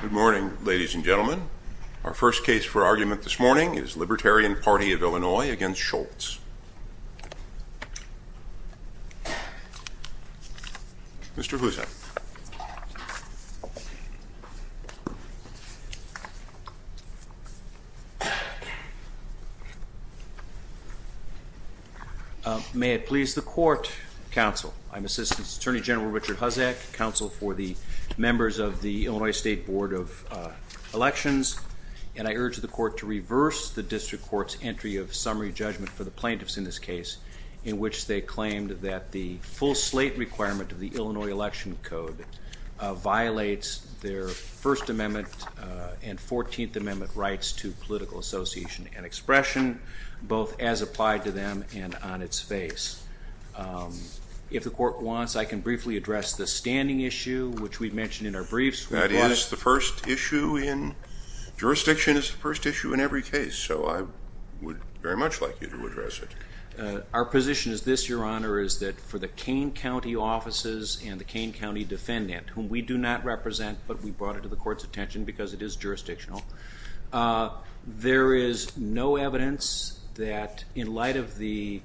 Good morning, ladies and gentlemen. Our first case for argument this morning is Libertarian Party of Illinois against Scholz. Mr. Huzak. May it please the court, counsel. I'm Assistant Attorney General Richard Huzak, counsel for the members of the Illinois State Board of Elections, and I urge the court to reverse the district court's entry of summary judgment for the plaintiffs in this case, in which they claimed that the full slate requirement of the Illinois Election Code violates their First Amendment and Fourteenth Amendment rights to political association and expression, both as a standing issue, which we've mentioned in our briefs. That is the first issue in jurisdiction, is the first issue in every case, so I would very much like you to address it. Our position is this, Your Honor, is that for the Kane County offices and the Kane County defendant, whom we do not represent, but we brought it to the court's attention because it is jurisdictional, there is no evidence that in light of the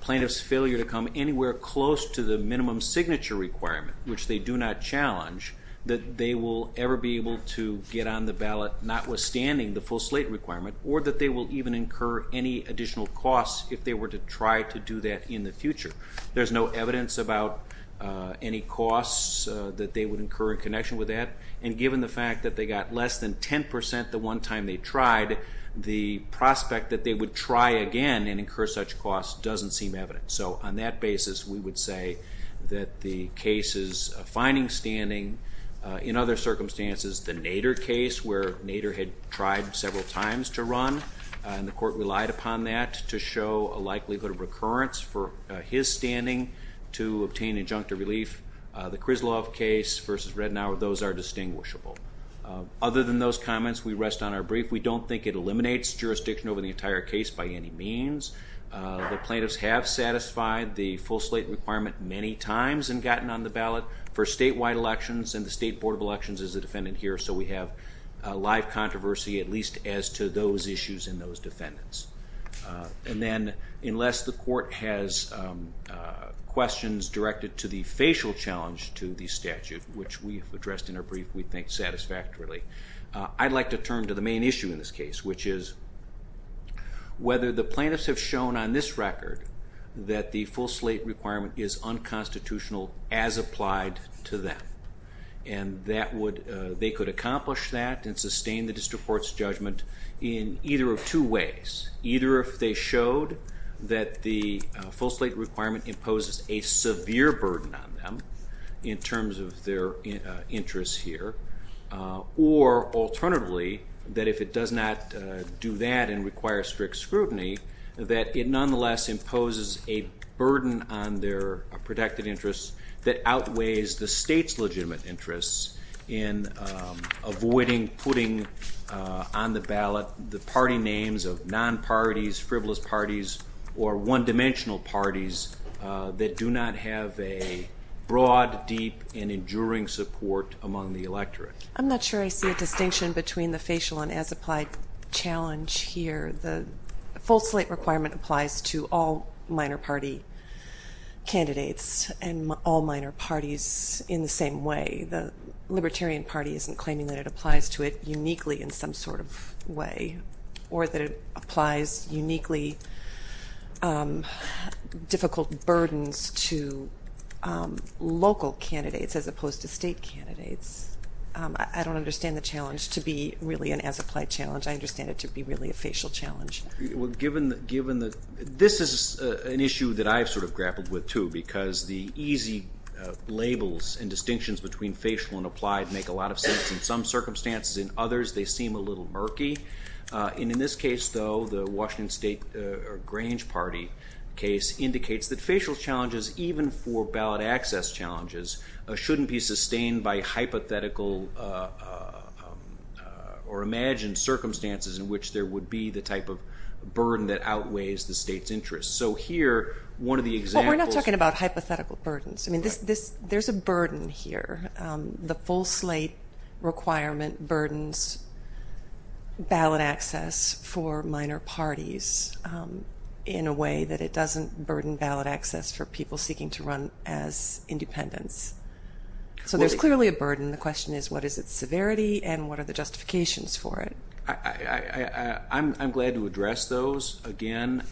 plaintiff's failure to come anywhere close to the minimum signature requirement, which they do not challenge, that they will ever be able to get on the ballot, notwithstanding the full slate requirement, or that they will even incur any additional costs if they were to try to do that in the future. There's no evidence about any costs that they would incur in connection with that, and given the fact that they got less than 10 percent the one time they tried, the prospect that they would try again and incur such costs doesn't seem evident. So on that basis, we would say that the case's finding standing, in other circumstances, the Nader case where Nader had tried several times to run, and the court relied upon that to show a likelihood of recurrence for his standing to obtain injunctive relief, the Krizlov case versus Redenauer, those are distinguishable. Other than those comments, we rest on our brief. We don't think it eliminates jurisdiction over the entire case by any means. The court has satisfied the full slate requirement many times and gotten on the ballot for statewide elections, and the State Board of Elections is a defendant here, so we have live controversy, at least as to those issues in those defendants. And then, unless the court has questions directed to the facial challenge to the statute, which we've addressed in our brief, we think satisfactorily, I'd like to turn to the main issue in this case, which is whether the plaintiffs have shown on this record that the full slate requirement is unconstitutional as applied to them. And that would, they could accomplish that and sustain the district court's judgment in either of two ways. Either if they showed that the full slate requirement imposes a severe burden on them, in terms of their interests here, or alternatively, that if it does not do that and require strict scrutiny, that it nonetheless imposes a burden on their protected interests that outweighs the state's legitimate interests in avoiding putting on the ballot the party names of non-parties, frivolous parties, or one-dimensional parties that do not have a broad, deep, and enduring support among the electorate. I'm not sure I see a distinction between the facial and as-applied challenge here. The full slate requirement applies to all minor party candidates and all minor parties in the same way. The Libertarian Party isn't claiming that it applies to it uniquely in some sort of way, or that it applies uniquely difficult burdens to local candidates as opposed to state candidates. I don't understand the challenge to be really an as-applied challenge. I understand it to be really a challenge. Well given that, given that, this is an issue that I've sort of grappled with too, because the easy labels and distinctions between facial and applied make a lot of sense in some circumstances, in others they seem a little murky, and in this case though the Washington State Grange Party case indicates that facial challenges, even for ballot access challenges, shouldn't be sustained by hypothetical or imagined circumstances in which there would be the type of burden that outweighs the state's interest. So here one of the examples... We're not talking about hypothetical burdens. I mean there's a burden here. The full slate requirement burdens ballot access for minor parties in a way that it doesn't burden ballot access for people seeking to run as independents. So there's clearly a burden. The question is what is its severity and what are the justifications for it? I'm glad to address those. Again,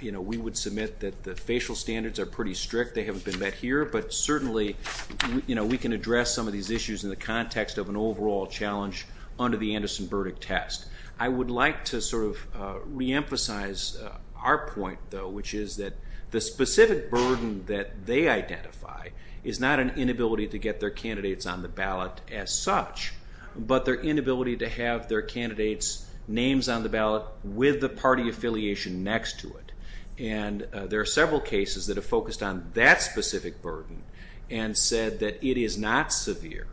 you know, we would submit that the facial standards are pretty strict. They haven't been met here, but certainly, you know, we can address some of these issues in the context of an overall challenge under the Anderson Burdick test. I would like to sort of reemphasize our point though, which is that the specific burden that they identify is not an inability to get their candidates on the ballot as such, but their inability to have their candidates' names on the ballot with the party affiliation next to it. And there are several cases that have focused on that specific burden and said that it is not severe.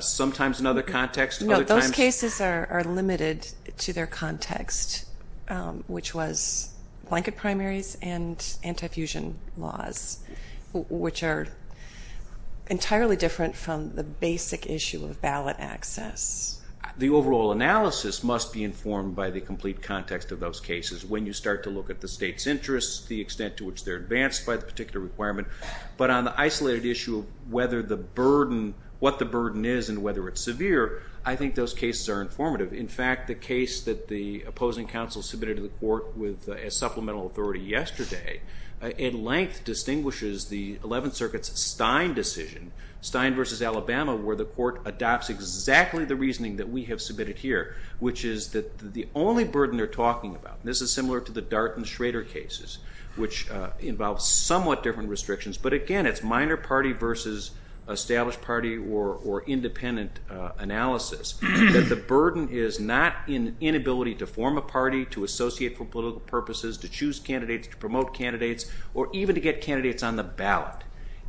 Sometimes in other contexts... No, those cases are limited to their context, which was blanket primaries and ballot access. The overall analysis must be informed by the complete context of those cases. When you start to look at the state's interests, the extent to which they're advanced by the particular requirement, but on the isolated issue of whether the burden, what the burden is and whether it's severe, I think those cases are informative. In fact, the case that the opposing counsel submitted to the court with a supplemental authority yesterday at length distinguishes the exactly the reasoning that we have submitted here, which is that the only burden they're talking about, this is similar to the Dart and Schrader cases, which involves somewhat different restrictions, but again it's minor party versus established party or independent analysis, that the burden is not in inability to form a party, to associate for political purposes, to choose candidates, to promote candidates, or even to get candidates on the ballot.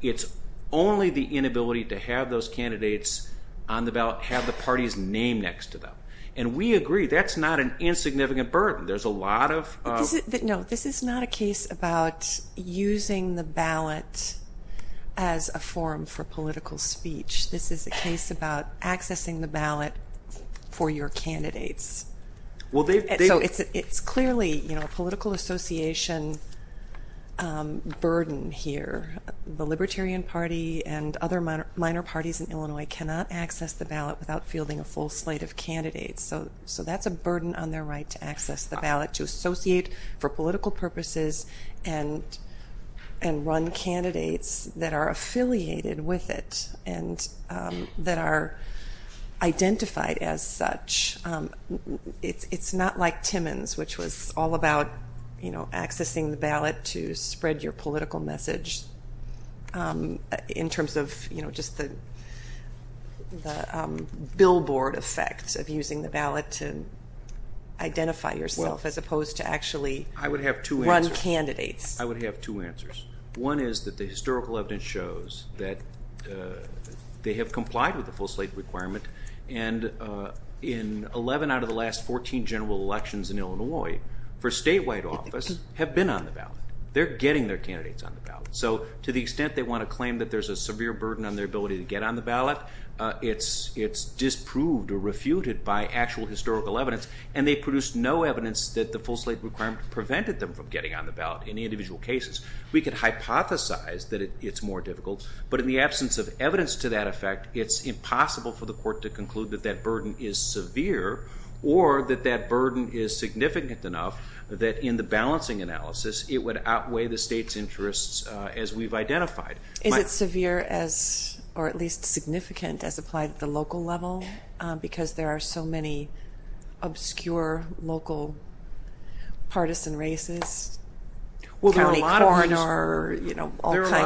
It's only the inability to have those candidates on the ballot, have the party's name next to them, and we agree that's not an insignificant burden. There's a lot of... No, this is not a case about using the ballot as a form for political speech. This is a case about accessing the ballot for your candidates. Well, it's clearly, you know, a political association burden here. The Libertarian Party and other minor parties in Illinois cannot access the ballot without fielding a full slate of candidates, so that's a burden on their right to access the ballot, to associate for political purposes, and run candidates that are affiliated with it, and that are identified as such. It's not like Timmons, which was all about, you know, accessing the ballot to in terms of, you know, just the billboard effects of using the ballot to identify yourself, as opposed to actually run candidates. I would have two answers. One is that the historical evidence shows that they have complied with the full slate requirement, and in 11 out of the last 14 general elections in Illinois, for statewide office, have been on the ballot. They're getting their ballot. To the extent they want to claim that there's a severe burden on their ability to get on the ballot, it's disproved or refuted by actual historical evidence, and they produce no evidence that the full slate requirement prevented them from getting on the ballot in the individual cases. We could hypothesize that it's more difficult, but in the absence of evidence to that effect, it's impossible for the court to conclude that that burden is severe, or that that burden is significant enough that in the balancing analysis, it would be modified. Is it severe as, or at least significant as applied at the local level, because there are so many obscure local partisan races? Well, there are a lot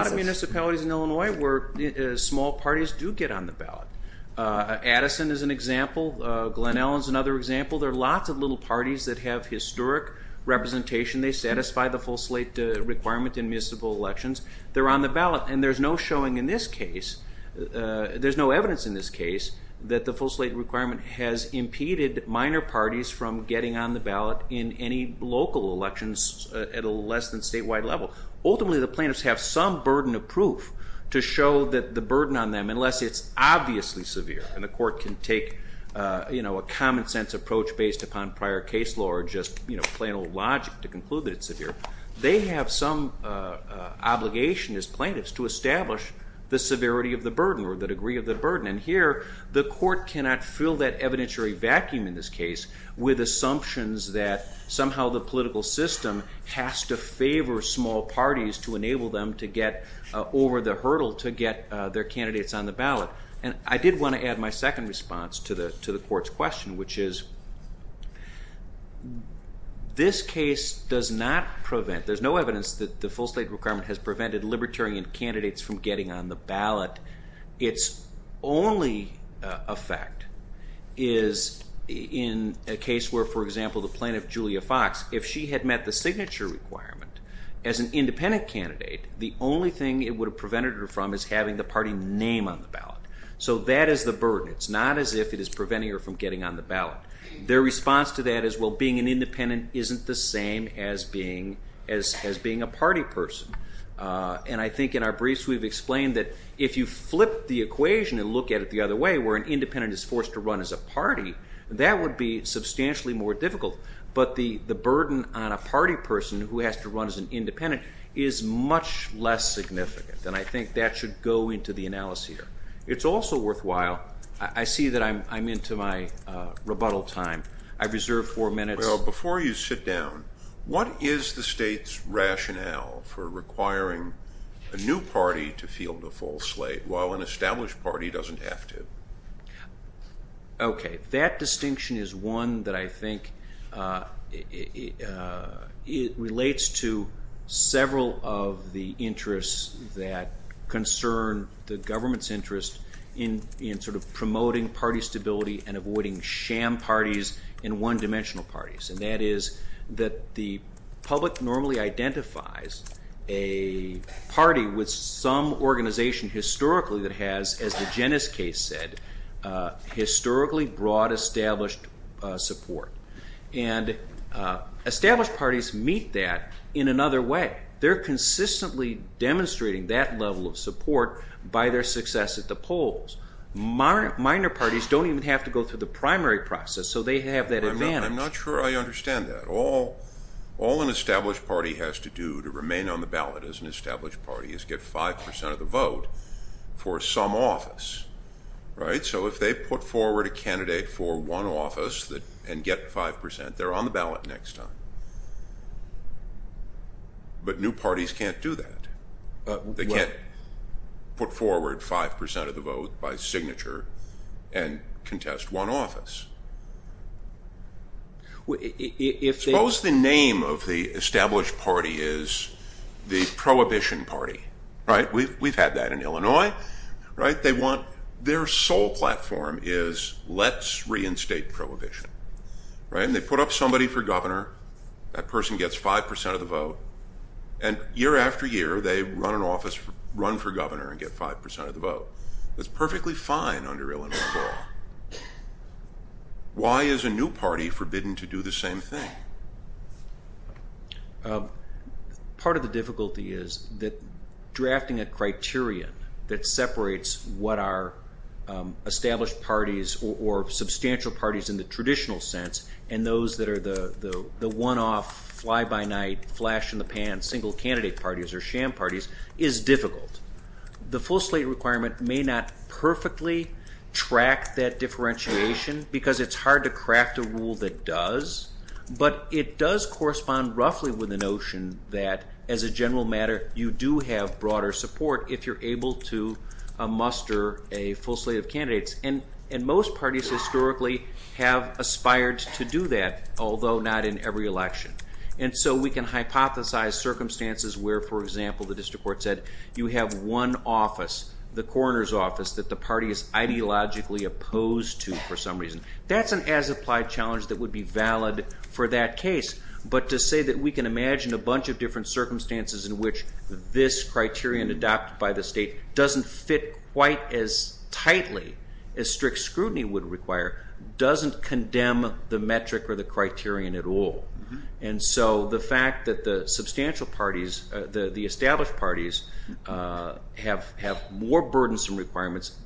of municipalities in Illinois where small parties do get on the ballot. Addison is an example. Glen Ellyn is another example. There are lots of little parties that have historic representation. They satisfy the full slate requirement in municipal elections. They're on the ballot, and there's no showing in this case, there's no evidence in this case that the full slate requirement has impeded minor parties from getting on the ballot in any local elections at a less than statewide level. Ultimately, the plaintiffs have some burden of proof to show that the burden on them, unless it's obviously severe and the court can take, you know, a common-sense approach based upon prior case law or just, you know, obligation as plaintiffs to establish the severity of the burden or the degree of the burden. And here, the court cannot fill that evidentiary vacuum in this case with assumptions that somehow the political system has to favor small parties to enable them to get over the hurdle to get their candidates on the ballot. And I did want to add my second response to the court's question, which is, this case does not prevent, there's no evidence that the court has prevented libertarian candidates from getting on the ballot. Its only effect is in a case where, for example, the plaintiff Julia Fox, if she had met the signature requirement as an independent candidate, the only thing it would have prevented her from is having the party name on the ballot. So that is the burden. It's not as if it is preventing her from getting on the ballot. Their response to that is, well, being an independent isn't the same as being a party person. And I think in our briefs we've explained that if you flip the equation and look at it the other way, where an independent is forced to run as a party, that would be substantially more difficult. But the the burden on a party person who has to run as an independent is much less significant. And I think that should go into the analysis here. It's also worthwhile, I see that I'm into my rebuttal time, I've reserved four minutes. Well, before you sit down, what is the state's rationale for requiring a new party to field the full slate while an established party doesn't have to? Okay, that distinction is one that I think it relates to several of the interests that concern the government's interest in sort of promoting party and that is that the public normally identifies a party with some organization historically that has, as the Jennis case said, historically broad established support. And established parties meet that in another way. They're consistently demonstrating that level of support by their success at the polls. Minor parties don't even have to go through the primary process, so they have that advantage. I'm not sure I understand that. All an established party has to do to remain on the ballot as an established party is get five percent of the vote for some office, right? So if they put forward a candidate for one office and get five percent, they're on the ballot next time. But new parties can't do that. They can't put forward five percent of the vote by signature and Suppose the name of the established party is the Prohibition Party, right? We've had that in Illinois, right? Their sole platform is let's reinstate prohibition, right? And they put up somebody for governor, that person gets five percent of the vote, and year after year they run an office, run for governor and get five percent of the vote. That's perfectly fine under Illinois law. Why is a new party forbidden to do the same thing? Part of the difficulty is that drafting a criterion that separates what are established parties or substantial parties in the traditional sense and those that are the one-off, fly-by-night, flash-in-the-pan, single candidate parties or sham parties is difficult. The full slate requirement may not perfectly track that differentiation because it's hard to craft a rule that does, but it does correspond roughly with the notion that, as a general matter, you do have broader support if you're able to muster a full slate of candidates. And most parties historically have aspired to do that, although not in every election. And so we can hypothesize circumstances where, for example, the district court said you have one office, the coroner's ideologically opposed to for some reason. That's an as-applied challenge that would be valid for that case, but to say that we can imagine a bunch of different circumstances in which this criterion adopted by the state doesn't fit quite as tightly as strict scrutiny would require doesn't condemn the metric or the criterion at all. And so the fact that the substantial parties, the candidates,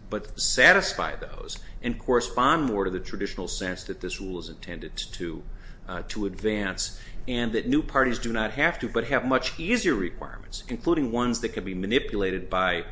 can satisfy those and correspond more to the traditional sense that this rule is intended to advance, and that new parties do not have to but have much easier requirements, including ones that can be manipulated by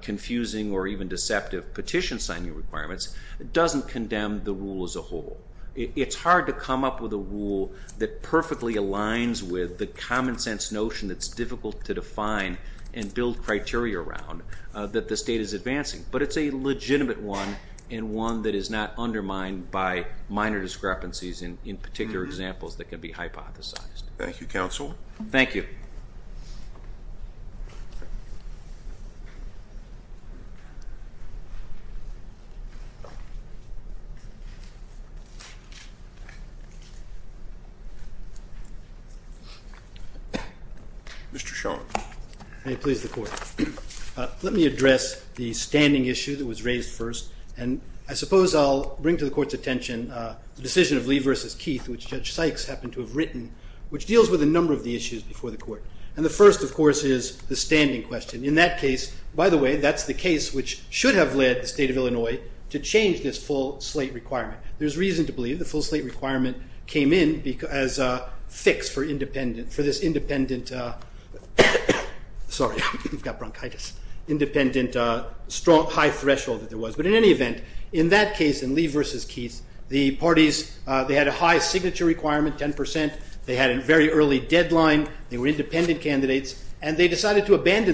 confusing or even deceptive petition signing requirements, doesn't condemn the rule as a whole. It's hard to come up with a rule that perfectly aligns with the common-sense notion that's difficult to define and build criteria around that the state is advancing, but it's a legitimate one and one that is not undermined by minor discrepancies in particular examples that can be hypothesized. Thank you, counsel. Thank you. Mr. Schoen. May it please the Court. Let me address the standing issue that was raised first, and I suppose I'll bring to the Court's attention the decision of Lee versus Keith, which Judge Sykes happened to have written, which deals with a standing question. In that case, by the way, that's the case which should have led the state of Illinois to change this full slate requirement. There's reason to believe the full slate requirement came in as a fix for this independent, sorry, we've got bronchitis, independent strong high threshold that there was. But in any event, in that case, in Lee versus Keith, the parties, they had a high signature requirement, 10%. They had a very early deadline. They were abandoned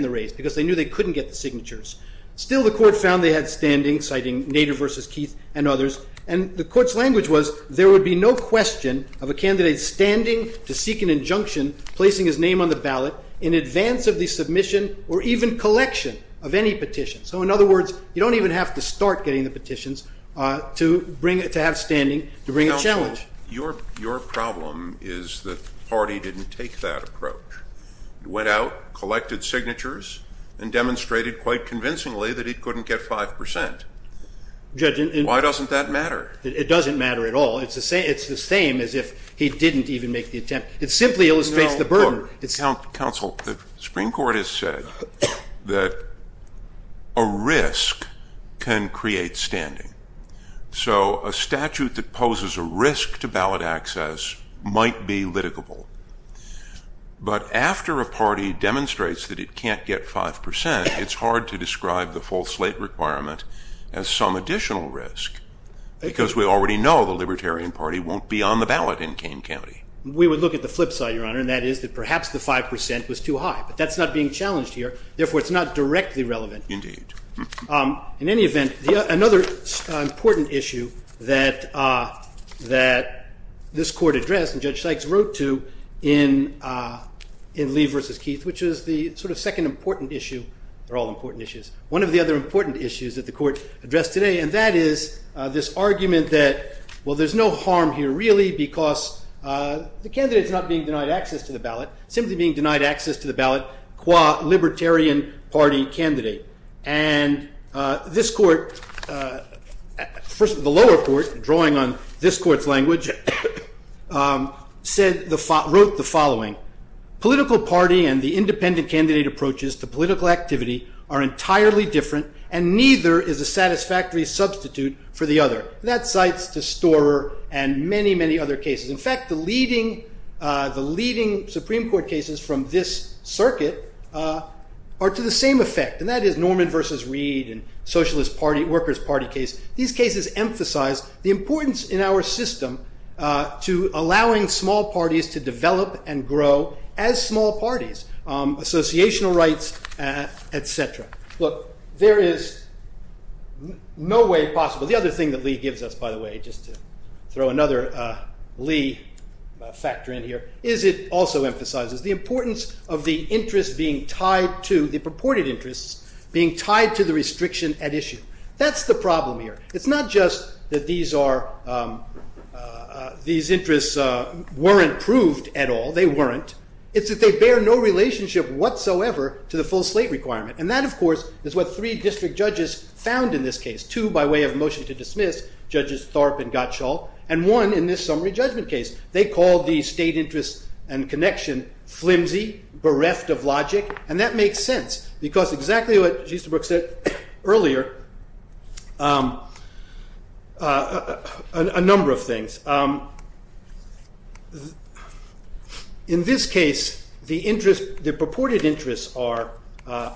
the race because they knew they couldn't get the signatures. Still, the Court found they had standing, citing Nader versus Keith and others, and the Court's language was there would be no question of a candidate standing to seek an injunction, placing his name on the ballot in advance of the submission or even collection of any petition. So in other words, you don't even have to start getting the petitions to have standing to bring a challenge. Your problem is that the party didn't take that approach. It went out, collected signatures, and demonstrated quite convincingly that he couldn't get 5%. Why doesn't that matter? It doesn't matter at all. It's the same as if he didn't even make the attempt. It simply illustrates the burden. Counsel, the Supreme Court has said that a risk can create standing. So a statute that poses a risk to ballot access might be litigable. But after a party demonstrates that it can't get 5%, it's hard to describe the full slate requirement as some additional risk, because we already know the Libertarian Party won't be on the ballot in Kane County. We would look at the flip side, Your Honor, and that is that perhaps the 5% was too high. But that's not being challenged here. Therefore, it's not directly relevant. Indeed. In any event, another important issue that this Court addressed and Judge Sykes wrote to in Lee v. Keith, which is the sort of second important issue. They're all important issues. One of the other important issues that the Court addressed today, and that is this argument that, well, there's no harm here, really, because the candidate's not being denied access to the ballot, simply being denied access to the ballot qua Libertarian Party candidate. And this Court, first of all, the following. Political party and the independent candidate approaches to political activity are entirely different, and neither is a satisfactory substitute for the other. That cites the Storer and many, many other cases. In fact, the leading Supreme Court cases from this circuit are to the same effect, and that is Norman v. Reed and Socialist Workers' Party case. These cases emphasize the importance in our system to allowing small parties to develop and grow as small parties, associational rights, etc. Look, there is no way possible. The other thing that Lee gives us, by the way, just to throw another Lee factor in here, is it also emphasizes the importance of the interests being tied to, the purported interests being tied to the restriction at issue. That's the problem here. It's not just that these interests weren't proved at all. They weren't. It's that they bear no relationship whatsoever to the full slate requirement. And that, of course, is what three district judges found in this case. Two by way of motion to dismiss, Judges Thorpe and Gottschall, and one in this summary judgment case. They called the state interest and connection flimsy, bereft of logic, and that makes sense, because exactly what Justerbrook said earlier, a number of things. In this case, the purported interests are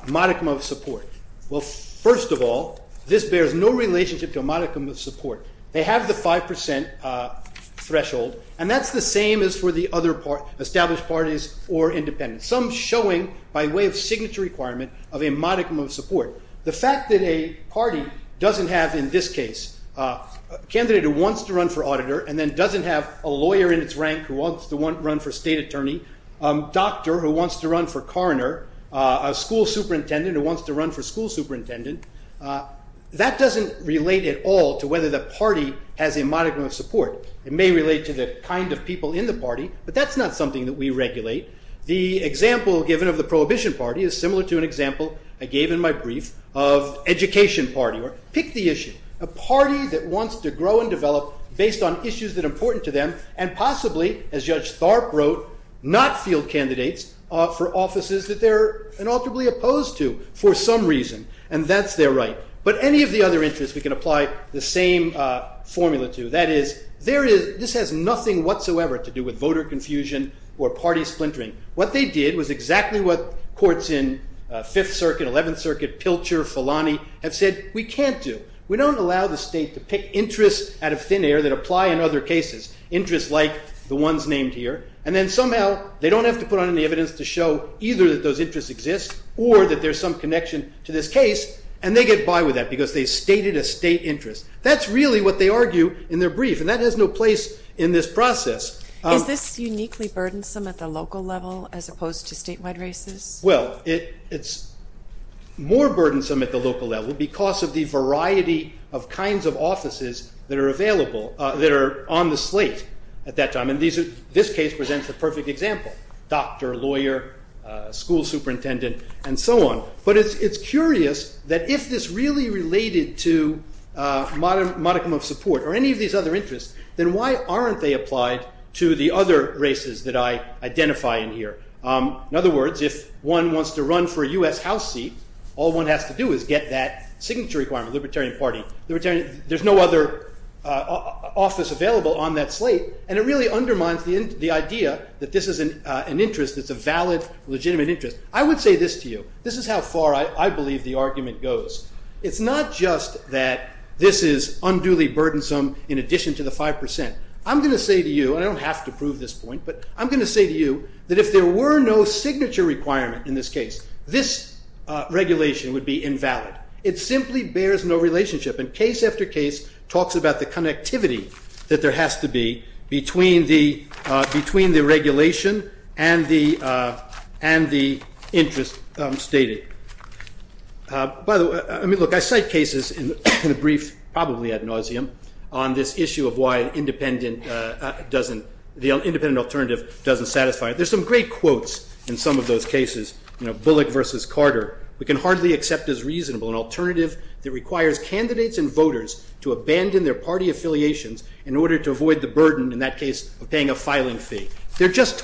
modicum of support. Well, first of all, this bears no relationship to a modicum of support. They have the 5% threshold, and that's the same as for the other established parties or independents. Some showing, by way of signature requirement, of a modicum of support. The fact that a party doesn't have, in this case, a candidate who wants to run for auditor and then doesn't have a lawyer in its rank who wants to run for state attorney, a doctor who wants to run for coroner, a school superintendent who wants to run for school superintendent, that doesn't relate at all to whether the party has a modicum of support. It may relate to the kind of people in the party, but that's not something that we regulate. The example given of the Prohibition Party is similar to an example I gave in my brief of Education Party, or pick the issue. A party that wants to grow and develop based on issues that are important to them, and possibly, as Judge Tharp wrote, not field candidates for offices that they're inalterably opposed to for some reason, and that's their right. But any of the other interests we can apply the same formula to. That is, this has nothing whatsoever to do with voter confusion or party splintering. What they did was exactly what courts in Fifth Circuit, Eleventh Circuit, Pilcher, Filani, have said, we can't do. We don't allow the state to pick interests out of thin air that apply in other cases. Interests like the ones named here, and then somehow they don't have to put on any evidence to show either that those interests exist or that there's some connection to this case, and they get by with that because they stated a state interest. That's really what they argue in their brief, and that has no place in this process. Is this uniquely burdensome at the local level as opposed to statewide races? Well, it's more burdensome at the local level because of the variety of kinds of offices that are available, that are on the slate at that time, and this case presents the perfect example. Doctor, lawyer, school superintendent, and so on. But it's curious that if this really related to modicum of support or any of these other interests, then why aren't they applied to the other races that I identify in here? In other words, if one wants to run for a US House seat, all one has to do is get that signature requirement, Libertarian Party. There's no other office available on that slate, and it really undermines the idea that this is an interest that's a valid, legitimate interest. I would say this to you. This is how far I believe the argument goes. It's not just that this is unduly burdensome in addition to the 5%. I'm going to say to you, and I don't have to prove this point, but I'm going to say to you that if there were no signature requirement in this case, this regulation would be invalid. It simply bears no relationship, and case after case talks about the connectivity that there has to be between the regulation and the interest stated. By the way, I mean, look, I cite cases in a brief, probably ad nauseam, on this issue of why the independent alternative doesn't satisfy. There's some great quotes in some of those cases, you know, Bullock versus Carter. We can hardly accept as reasonable an alternative that requires candidates and voters to abandon their party affiliations in order to avoid the burden, in that case, of paying a filing fee. They're just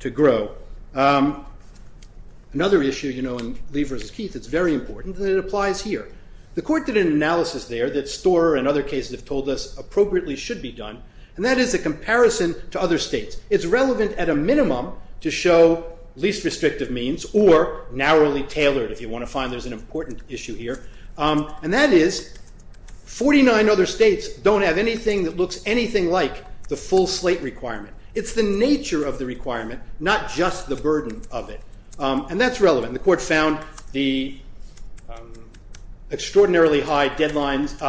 to grow. Another issue, you know, in Lee versus Keith, it's very important, and it applies here. The court did an analysis there that Storer and other cases have told us appropriately should be done, and that is a comparison to other states. It's relevant at a minimum to show least restrictive means or narrowly tailored, if you want to find there's an important issue here, and that is 49 other states don't have anything that looks anything like the full slate requirement. It's the requirement, not just the burden of it, and that's relevant. The court found the extraordinarily high deadlines,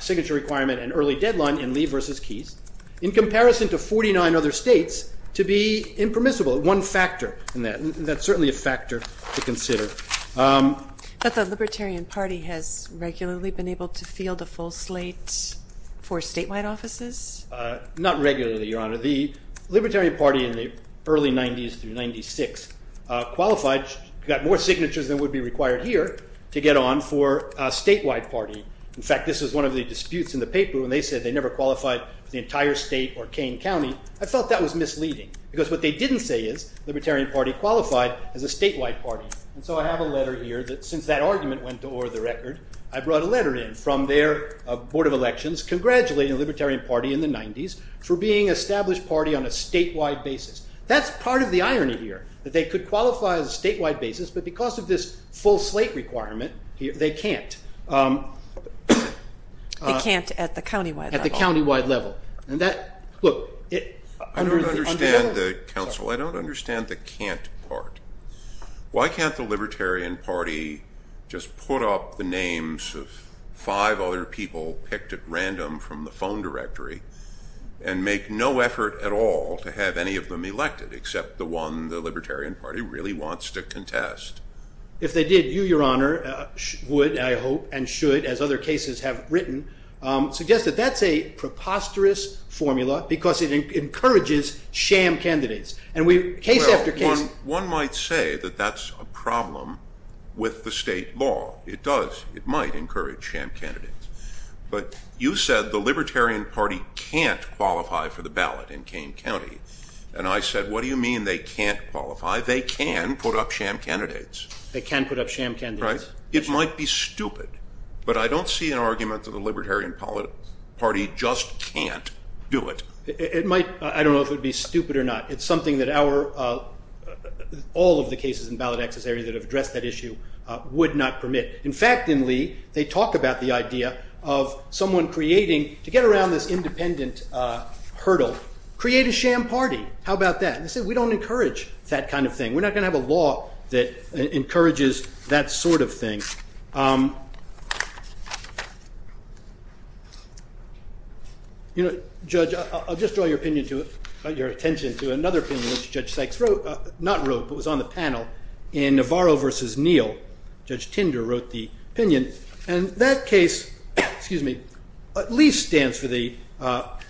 signature requirement, and early deadline in Lee versus Keith, in comparison to 49 other states, to be impermissible. One factor in that, and that's certainly a factor to consider. But the Libertarian Party has regularly been able to field a full slate for statewide offices? Not regularly, Your Honor. The Libertarian Party in the early 90s through 96 qualified, got more signatures than would be required here, to get on for a statewide party. In fact, this is one of the disputes in the paper when they said they never qualified for the entire state or Kane County. I felt that was misleading, because what they didn't say is Libertarian Party qualified as a statewide party. And so I have a letter here that, since that argument went to order the record, I brought a letter in from their Board of Elections congratulating the Libertarian Party in the 90s for being established party on a statewide basis. That's part of the irony here, that they could qualify as a statewide basis, but because of this full slate requirement, they can't. They can't at the countywide level. At the countywide level. And that, look, I don't understand, Counsel, I don't understand the can't part. Why can't the the phone directory and make no effort at all to have any of them elected except the one the Libertarian Party really wants to contest? If they did, you, Your Honor, would, I hope, and should, as other cases have written, suggest that that's a preposterous formula, because it encourages sham candidates. And we, case after case... One might say that that's a problem with the state law. It does, it said the Libertarian Party can't qualify for the ballot in Kane County. And I said, what do you mean they can't qualify? They can put up sham candidates. They can put up sham candidates. Right. It might be stupid, but I don't see an argument that the Libertarian Party just can't do it. It might, I don't know if it would be stupid or not. It's something that our, all of the cases in ballot access area that have addressed that issue, would not permit. In fact, in Lee, they talk about the idea of someone creating, to get around this independent hurdle, create a sham party. How about that? They said we don't encourage that kind of thing. We're not going to have a law that encourages that sort of thing. You know, Judge, I'll just draw your opinion to it, your attention to another opinion, which Judge Sykes wrote, not wrote, but was on the panel in Navarro versus Neal, Judge Tinder wrote the opinion. And that case, excuse me, at least stands for the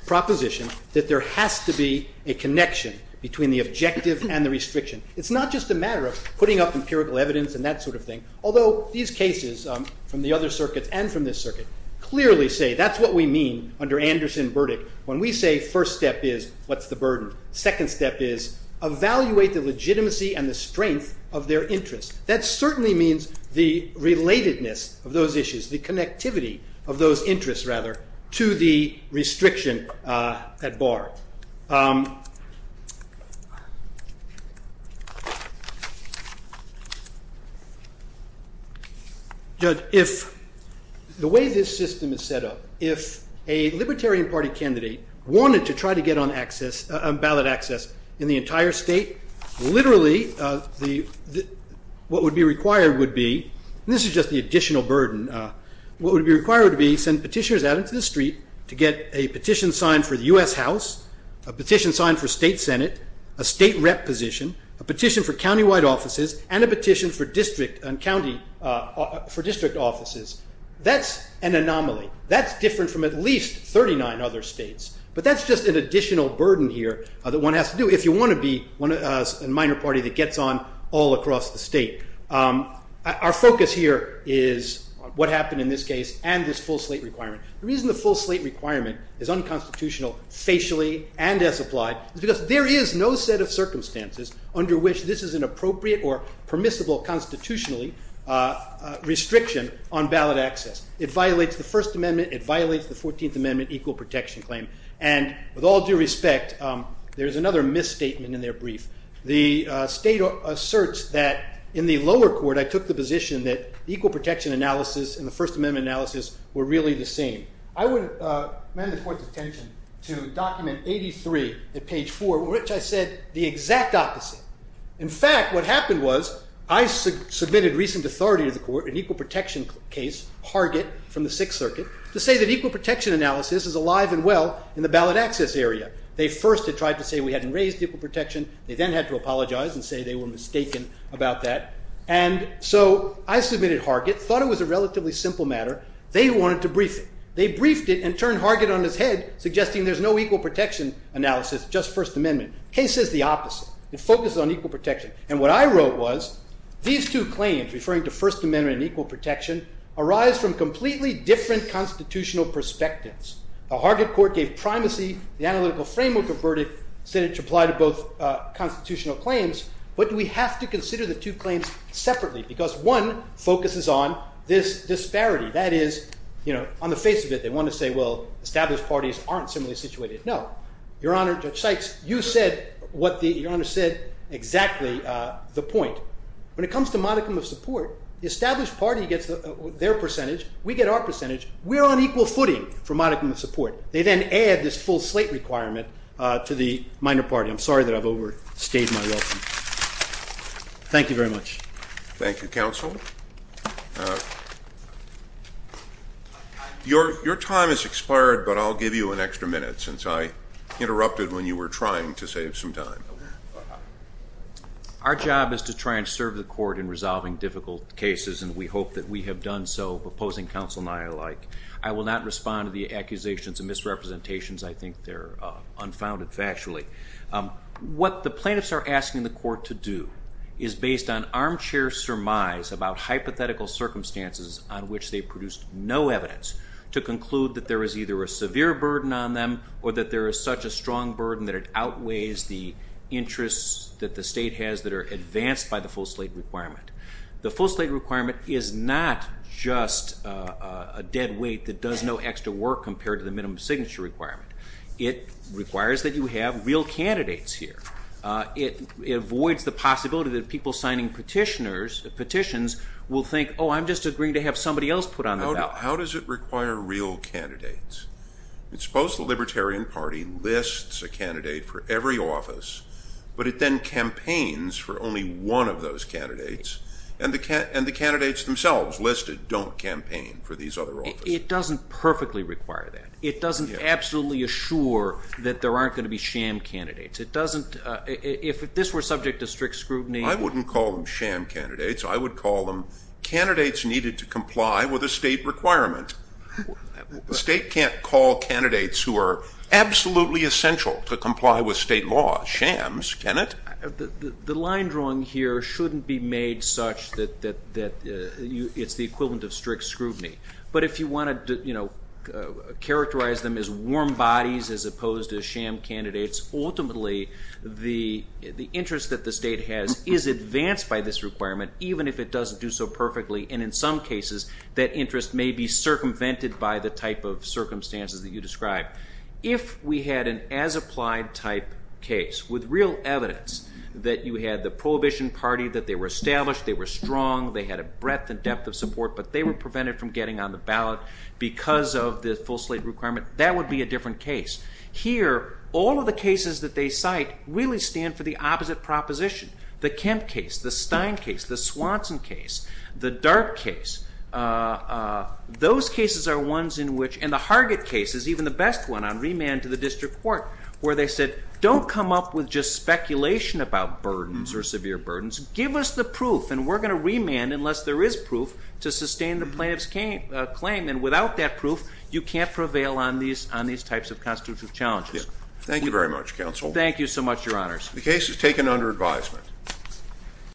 proposition that there has to be a connection between the objective and the restriction. It's not just a matter of putting up empirical evidence and that sort of thing. Although these cases from the other circuits and from this circuit clearly say that's what we mean under Anderson verdict. When we say first step is what's the burden? Second step is evaluate the legitimacy and the strength of their interest. That certainly means the relatedness of those issues, the connectivity of those interests, rather, to the restriction at bar. Judge, if the way this system is set up, if a Libertarian Party candidate wanted to what would be required would be, this is just the additional burden, what would be required to be send petitioners out into the street to get a petition signed for the US House, a petition signed for State Senate, a state rep position, a petition for countywide offices, and a petition for district and county for district offices. That's an anomaly. That's different from at least 39 other states. But that's just an additional burden here that one has to do if you want to be a minor party that gets on all across the state. Our focus here is what happened in this case and this full slate requirement. The reason the full slate requirement is unconstitutional facially and as applied is because there is no set of circumstances under which this is an appropriate or permissible constitutionally restriction on ballot access. It violates the First Amendment, it violates the Fourteenth Amendment equal protection claim, and with all due respect there's another misstatement in their brief. The state asserts that in the lower court I took the position that equal protection analysis and the First Amendment analysis were really the same. I would amend the court's intention to document 83 at page 4 which I said the exact opposite. In fact what happened was I submitted recent authority to the court an equal protection case, Hargett from the Sixth Circuit, to say that equal protection analysis is alive and well in the ballot access area. They first had tried to say we hadn't raised equal protection, they then had to apologize and say they were mistaken about that, and so I submitted Hargett, thought it was a relatively simple matter, they wanted to brief it. They briefed it and turned Hargett on his head suggesting there's no equal protection analysis, just First Amendment. Case says the opposite. It focuses on equal protection and what I wrote was these two claims referring to First Amendment and equal protection arise from completely different constitutional perspectives. The Hargett court gave primacy, the analytical framework of verdict said it should apply to both constitutional claims, but we have to consider the two claims separately because one focuses on this disparity, that is, you know, on the face of it they want to say well established parties aren't similarly situated. No, Your Honor, Judge Sykes, you said what the, Your Honor said exactly the point. When it comes to modicum of percentage, we're on equal footing for modicum of support. They then add this full slate requirement to the minor party. I'm sorry that I've overstayed my welcome. Thank you very much. Thank you, counsel. Your time has expired, but I'll give you an extra minute since I interrupted when you were trying to save some time. Our job is to try and serve the court in resolving difficult cases and we hope that we have done so, opposing counsel and I alike. I will not respond to the accusations and misrepresentations. I think they're unfounded factually. What the plaintiffs are asking the court to do is based on armchair surmise about hypothetical circumstances on which they produced no evidence to conclude that there is either a severe burden on them or that there is such a strong burden that it outweighs the interests that the state has that are advanced by the full slate requirement. The full slate requirement is not just a dead weight that does no extra work compared to the minimum signature requirement. It requires that you have real candidates here. It avoids the possibility that people signing petitions will think, oh I'm just agreeing to have somebody else put on the ballot. How does it require real candidates? Suppose the Libertarian Party lists a candidate for every office, but it then campaigns for only one of those candidates and the candidates themselves listed don't campaign for these other offices. It doesn't perfectly require that. It doesn't absolutely assure that there aren't going to be sham candidates. It doesn't, if this were subject to strict scrutiny... I wouldn't call them sham candidates. I would call them candidates needed to comply with a state requirement. The state can't call candidates who are absolutely essential to comply with state law shams, can it? The line drawing here shouldn't be made such that it's the equivalent of strict scrutiny, but if you want to characterize them as warm bodies as opposed to sham candidates, ultimately the interest that the state has is advanced by this requirement even if it doesn't do so perfectly and in some cases that interest may be circumvented by the type of circumstances that you describe. If we had an as-applied type case with real evidence that you had the prohibition party, that they were established, they were strong, they had a breadth and depth of support, but they were prevented from getting on the ballot because of the full slate requirement, that would be a different case. Here all of the cases that they cite really stand for the opposite proposition. The Kemp case, the Stein case, the Swanson case, the Dark case. Those cases are ones in which, and the Hargett case is even the best one on remand to the district court, where they said don't come up with just speculation about burdens or severe burdens. Give us the proof and we're going to remand unless there is proof to sustain the plaintiff's claim and without that proof you can't prevail on these types of constitutive challenges. Thank you very much counsel. Thank you so much your honors. The case is taken under advisement.